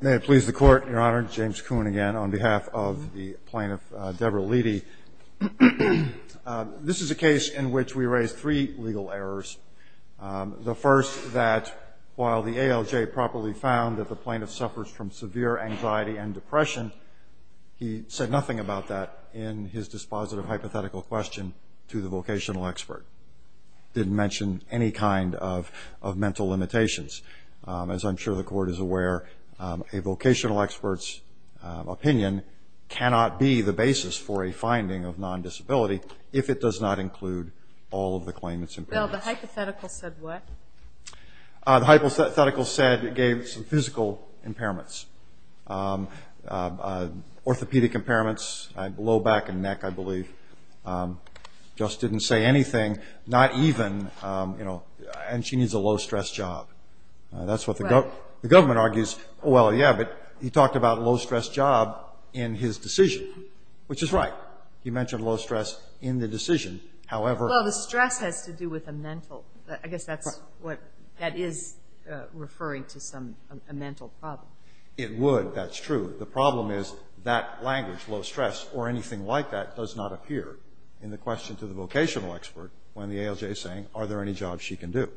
May it please the Court, Your Honor. James Kuhn again on behalf of the Plaintiff Debra Leedy. This is a case in which we raise three legal errors. The first, that while the ALJ properly found that the Plaintiff suffers from severe anxiety and depression, he said nothing about that in his dispositive hypothetical question to the vocational expert. Didn't mention any kind of mental limitations. As I'm sure the Court is aware, a vocational expert's opinion cannot be the basis for a finding of non-disability if it does not include all of the claimants' impairments. Well, the hypothetical said what? The hypothetical said it gave some physical impairments. Orthopedic impairments, low back and neck I believe. Just didn't say anything. Not even, you know, and she needs a low-stress job. That's what the government argues. Well, yeah, but he talked about a low-stress job in his decision, which is right. He mentioned low stress in the decision. However... Well, the stress has to do with a mental... I guess that's what... that is referring to some... a mental problem. It would, that's true. The problem is that language, low stress, or anything like that does not appear in the question to the vocational expert when the ALJ is saying, are there any jobs she can do?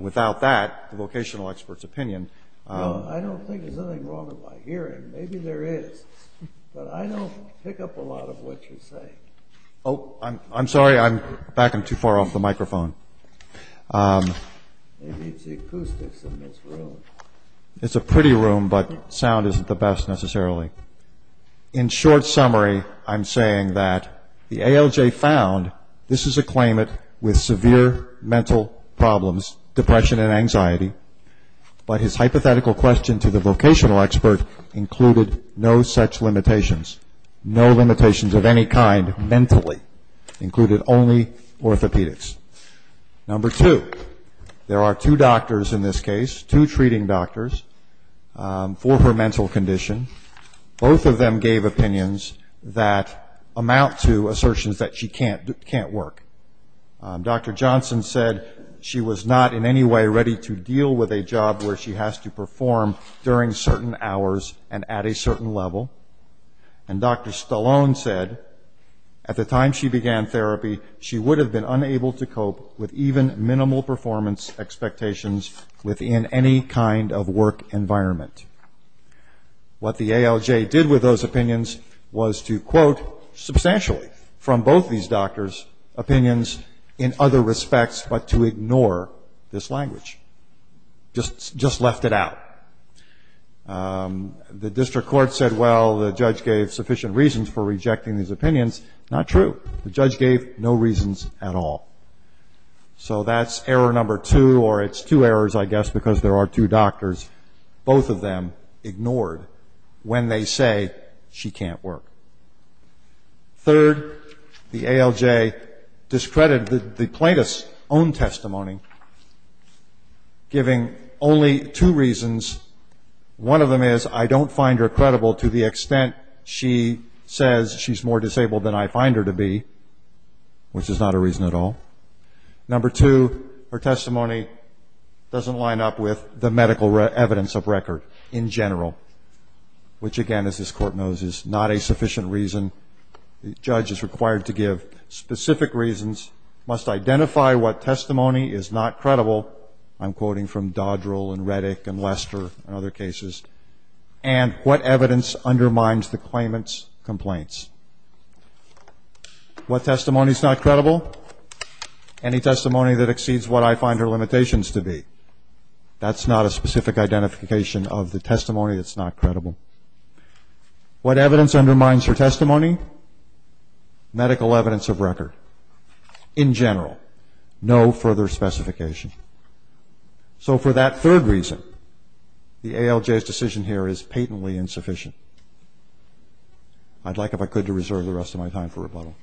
Without that, the vocational expert's opinion... Well, I don't think there's anything wrong with my hearing. Maybe there is, but I don't pick up a lot of what you're saying. Oh, I'm sorry, I'm backing too far off the microphone. Maybe it's the acoustics in this room. It's a pretty room, but sound isn't the best necessarily. In short summary, I'm saying that the ALJ found this is a claimant with severe mental problems, depression and anxiety, but his hypothetical question to the vocational expert included no such limitations, no limitations of any kind mentally, included only orthopedics. Number two, there are two doctors in this case, two treating doctors for her mental condition. Both of them gave opinions that amount to assertions that she can't work. Dr. Johnson said she was not in any way ready to deal with a job where she has to perform during certain hours and at a certain level. And Dr. Stallone said at the time she began therapy, she would have been unable to cope with even any kind of work environment. What the ALJ did with those opinions was to quote substantially from both these doctors' opinions in other respects, but to ignore this language. Just left it out. The district court said, well, the judge gave sufficient reasons for rejecting these opinions. Not true. The judge gave no reasons at all. So that's error number two, or it's two errors, I guess, because there are two doctors. Both of them ignored when they say she can't work. Third, the ALJ discredited the plaintiff's own testimony, giving only two reasons. One of them is, I don't find her credible to the extent she says she's more disabled than I am, doesn't line up with the medical evidence of record in general, which again, as this court knows, is not a sufficient reason the judge is required to give. Specific reasons must identify what testimony is not credible, I'm quoting from Dodrell and Redick and Lester and other cases, and what evidence undermines the claimant's complaints. What testimony is not credible? Any testimony that exceeds what I find her limitations to be. That's not a specific identification of the testimony that's not credible. What evidence undermines her testimony? Medical evidence of record. In general. No further specification. So for that third reason, the ALJ's decision here is patently insufficient. I'd like, if I could, to reserve the rest of my time for rebuttal.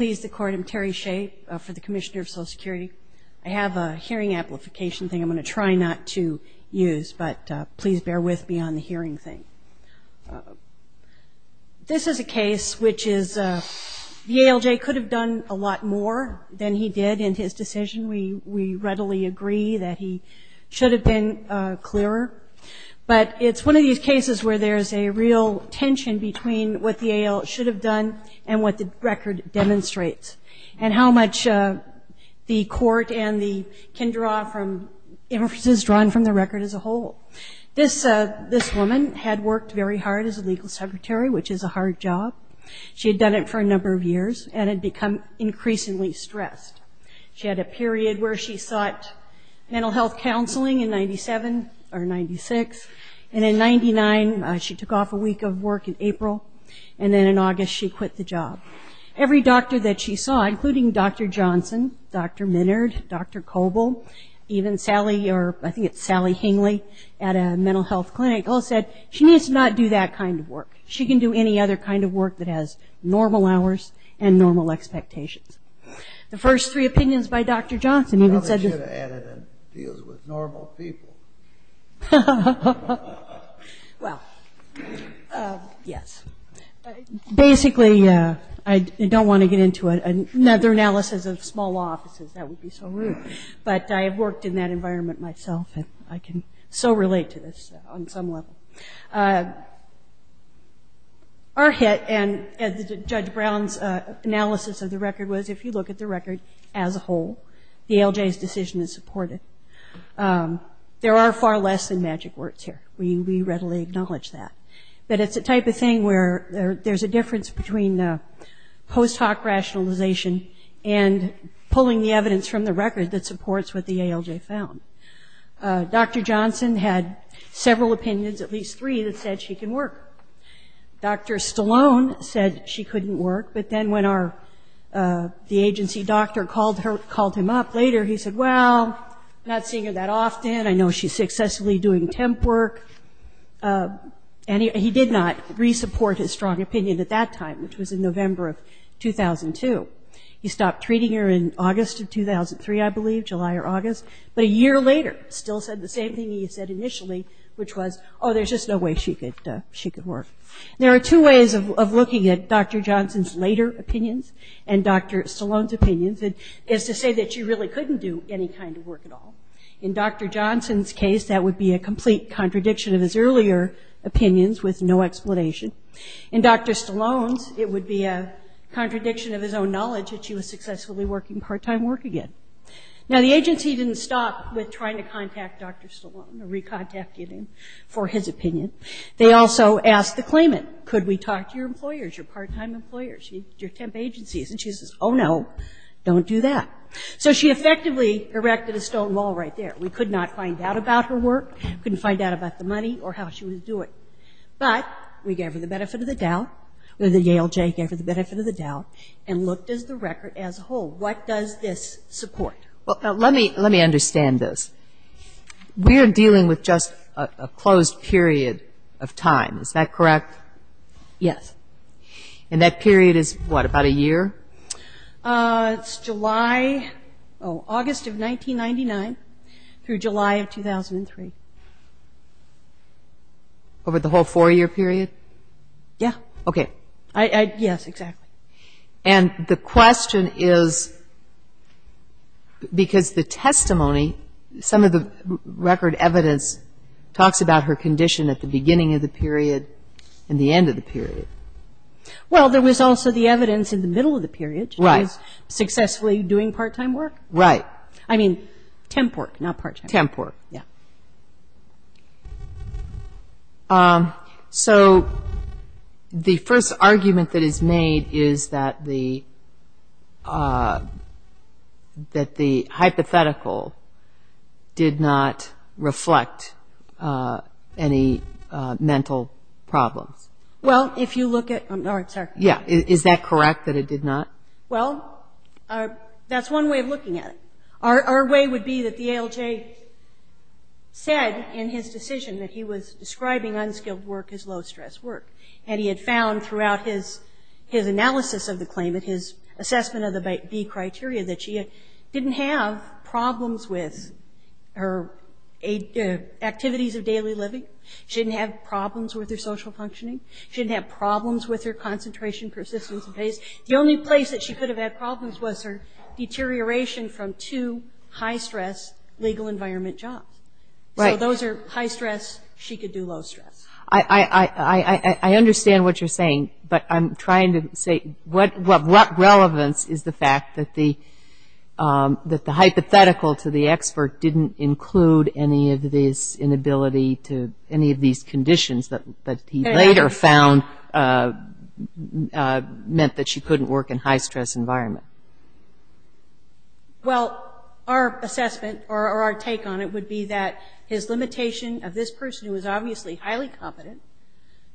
MS. SHAY, COMMISSIONER OF SOCIAL SECURITY. I have a hearing amplification thing I'm going to try not to use, but please bear with me on the hearing thing. This is a case which is, the ALJ could have done a lot more than he did in his decision. We readily agree that he should have been clearer. But it's one of these cases where there's a real tension between what the AL should have done and what the record demonstrates, and how much the court and the kindergarten officers drawn from the record as a whole. This woman had worked very hard as a legal secretary, which is a hard job. She had done it for a number of years, and had become increasingly stressed. She had a period where she sought mental health counseling in 97 or 96, and in 99 she took off a week of work in April, and then in August she quit the job. Every doctor that she saw, including Dr. Johnson, Dr. Minard, Dr. Coble, even Sally, or I think it's Sally Hingley, at a mental health clinic, all said, she needs to not do that kind of work. She can do any other kind of work that has normal hours and normal expectations. The first three opinions by Dr. Johnson even said this. The other should have added, it deals with normal people. Well, yes. Basically, I don't want to get into another analysis of small law offices, that would be so rude. But I have worked in that environment myself, and I can so relate to this on some level. Our hit, and Judge Brown's analysis of the record was, if you look at the record as a whole, the ALJ's decision is supported. There are far less than magic words here. We readily acknowledge that. But it's a type of thing where there's a difference between post hoc rationalization and pulling the evidence from the record that supports what the ALJ found. Dr. Johnson had several opinions, at least three, that said she can work. Dr. Stallone said she couldn't work. But then when our, the agency doctor called her, called him up later, he said, well, not seeing her that often. I know she's successfully doing temp work. And he did not re-support his strong opinion at that time, which was in November of 2002. He stopped treating her in August of 2003, I believe, July or August. But a year later, still said the same thing he said initially, which was, oh, there's just no way she could work. There are two ways of looking at Dr. Johnson's later opinions and Dr. Stallone's opinions, is to say that you really couldn't do any kind of work at all. In Dr. Johnson's case, that would be a complete contradiction of his earlier opinions with no explanation. In Dr. Stallone's, it would be a contradiction of his own knowledge that she was successfully working part-time work again. Now, the agency didn't stop with trying to contact Dr. Stallone or re-contacting him for his opinion. They also asked the claimant, could we talk to your employers, your part-time employers, your temp agencies? And she says, oh, no, don't do that. So she effectively erected a stone wall right there. We could not find out about her work, couldn't find out about the money or how she was doing. But we gave her the benefit of the doubt, or the Yale J gave her the benefit of the doubt, and looked at the record as a whole. What does this support? Well, now, let me understand this. We are dealing with just a closed period of time. Is that correct? Yes. And that period is what, about a year? It's July, oh, August of 1999 through July of 2003. Over the whole four-year period? Yeah. Okay. Yes, exactly. And the question is, because the testimony, some of the record evidence talks about her work. Well, there was also the evidence in the middle of the period, she was successfully doing part-time work. Right. I mean, temp work, not part-time. Temp work. Yeah. So the first argument that is made is that the hypothetical did not reflect any mental problems. Well, if you look at, oh, sorry. Yeah. Is that correct, that it did not? Well, that's one way of looking at it. Our way would be that the Yale J said in his decision that he was describing unskilled work as low-stress work, and he had found throughout his analysis of the claimant, his assessment of the B criteria, that she didn't have problems with her activities of daily living, she didn't have problems with her social functioning, she didn't have problems with her concentration, persistence, and pace. The only place that she could have had problems was her deterioration from two high-stress legal environment jobs. Right. So those are high-stress, she could do low-stress. I understand what you're saying, but I'm trying to say what relevance is the fact that the hypothetical to the expert didn't include any of these inability to, any of these that he later found meant that she couldn't work in high-stress environment? Well, our assessment or our take on it would be that his limitation of this person who is obviously highly competent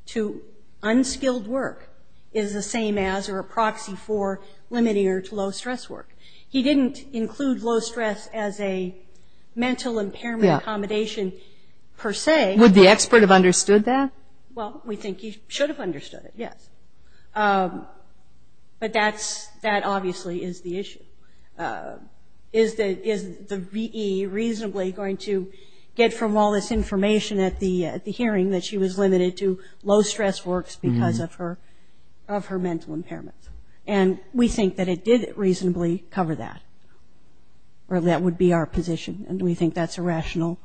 to unskilled work is the same as or a proxy for limiting her to low-stress work. He didn't include low-stress as a mental impairment accommodation per se. Would the expert have understood that? Well, we think he should have understood it, yes. But that's, that obviously is the issue. Is the V.E. reasonably going to get from all this information at the hearing that she was limited to low-stress works because of her mental impairment? And we think that it did reasonably cover that, or that would be our position, and we think that's a rational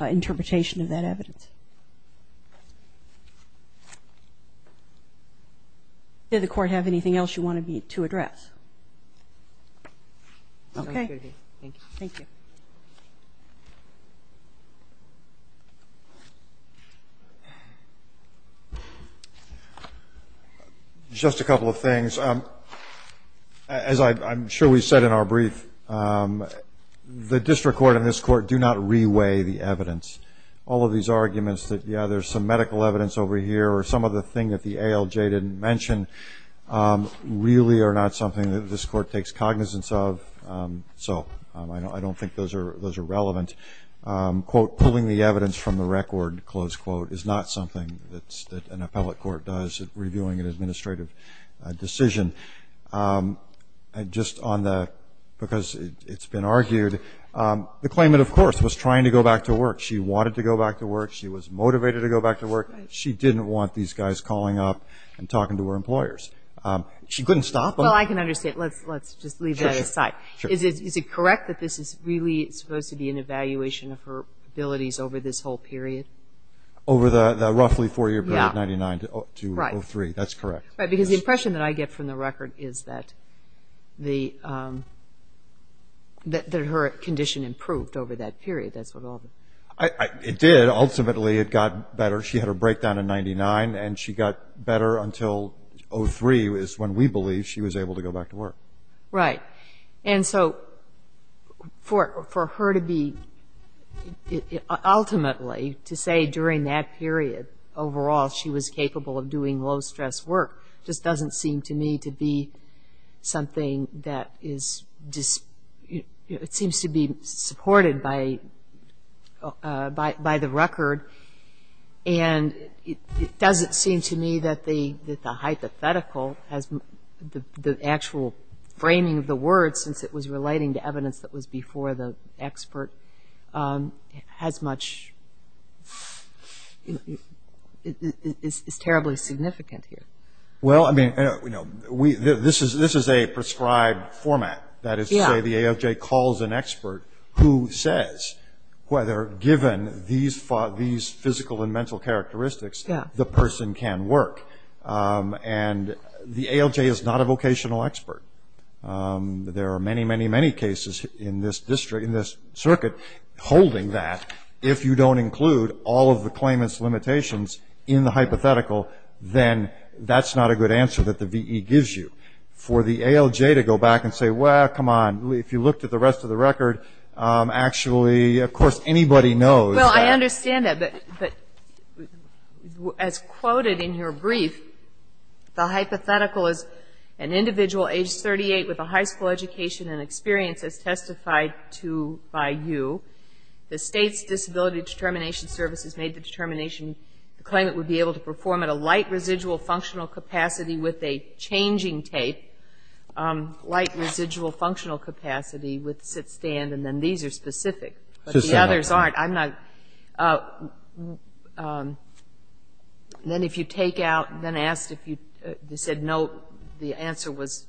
interpretation of that evidence. Did the Court have anything else you wanted me to address? Okay. Thank you. Just a couple of things. As I'm sure we said in our brief, the district court and this Court are not pulling the evidence. All of these arguments that, yeah, there's some medical evidence over here, or some other thing that the ALJ didn't mention, really are not something that this Court takes cognizance of, so I don't think those are relevant. Quote, pulling the evidence from the record, close quote, is not something that an appellate court does at reviewing an administrative decision. And just on the, because it's been argued, the claimant, of course, was trying to go back to work. She wanted to go back to work. She was motivated to go back to work. She didn't want these guys calling up and talking to her employers. She couldn't stop them. Well, I can understand. Let's just leave that aside. Is it correct that this is really supposed to be an evaluation of her abilities over this whole period? Over the roughly four-year period, 99 to 03. That's correct. Right, because the impression that I get from the record is that the, that her condition improved over that period. That's what all the... It did. Ultimately, it got better. She had her breakdown in 99, and she got better until 03 is when we believe she was able to go back to work. Right. And so, for her to be, ultimately, to say during that period, overall, she was capable of doing low-stress work just doesn't seem to me to be something that is, it seems to be supported by the record. And it doesn't seem to me that the hypothetical has, the actual, that the hypothetical is framing of the word, since it was relating to evidence that was before the expert, has much, is terribly significant here. Well, I mean, this is a prescribed format. That is to say, the ALJ calls an expert who says whether, given these physical and mental characteristics, the person can work. And the ALJ is not a vocational expert. There are many, many, many cases in this circuit holding that. If you don't include all of the claimant's limitations in the hypothetical, then that's not a good answer that the VE gives you. For the ALJ to go back and say, well, come on, if you looked at the rest of the record, actually, of course, anybody knows that. I understand that, but as quoted in your brief, the hypothetical is an individual age 38 with a high school education and experience as testified to by you. The state's disability determination services made the determination the claimant would be able to perform at a light residual functional capacity with a changing tape, light residual functional capacity with sit-stand, and then these are the limitations. Now, then if you take out, then asked if you said no, the answer was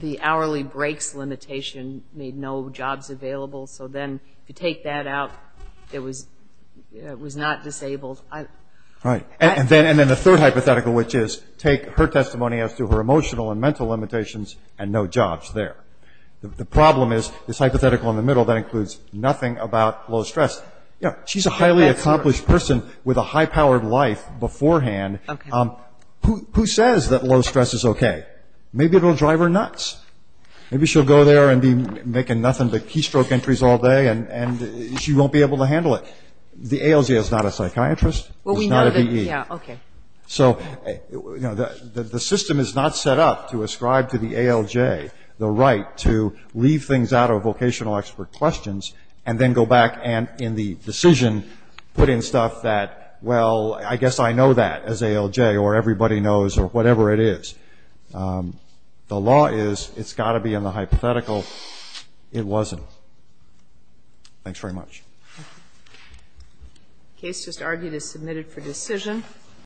the hourly breaks limitation made no jobs available. So then if you take that out, it was not disabled. All right. And then the third hypothetical, which is take her testimony as to her emotional and mental limitations and no jobs there. The problem is this hypothetical in the middle that includes nothing about low stress. She's a highly accomplished person with a high-powered life beforehand. Who says that low stress is OK? Maybe it will drive her nuts. Maybe she'll go there and be making nothing but keystroke entries all day and she won't be able to handle it. The ALJ is not a psychiatrist. It's not a VE. So the system is not set up to ascribe to the ALJ the right to leave things out of vocational expert questions and then go back and in the decision put in stuff that, well, I guess I know that as ALJ or everybody knows or whatever it is. The law is it's got to be in the hypothetical. It wasn't. Thanks very much. Case just argued as submitted for decision.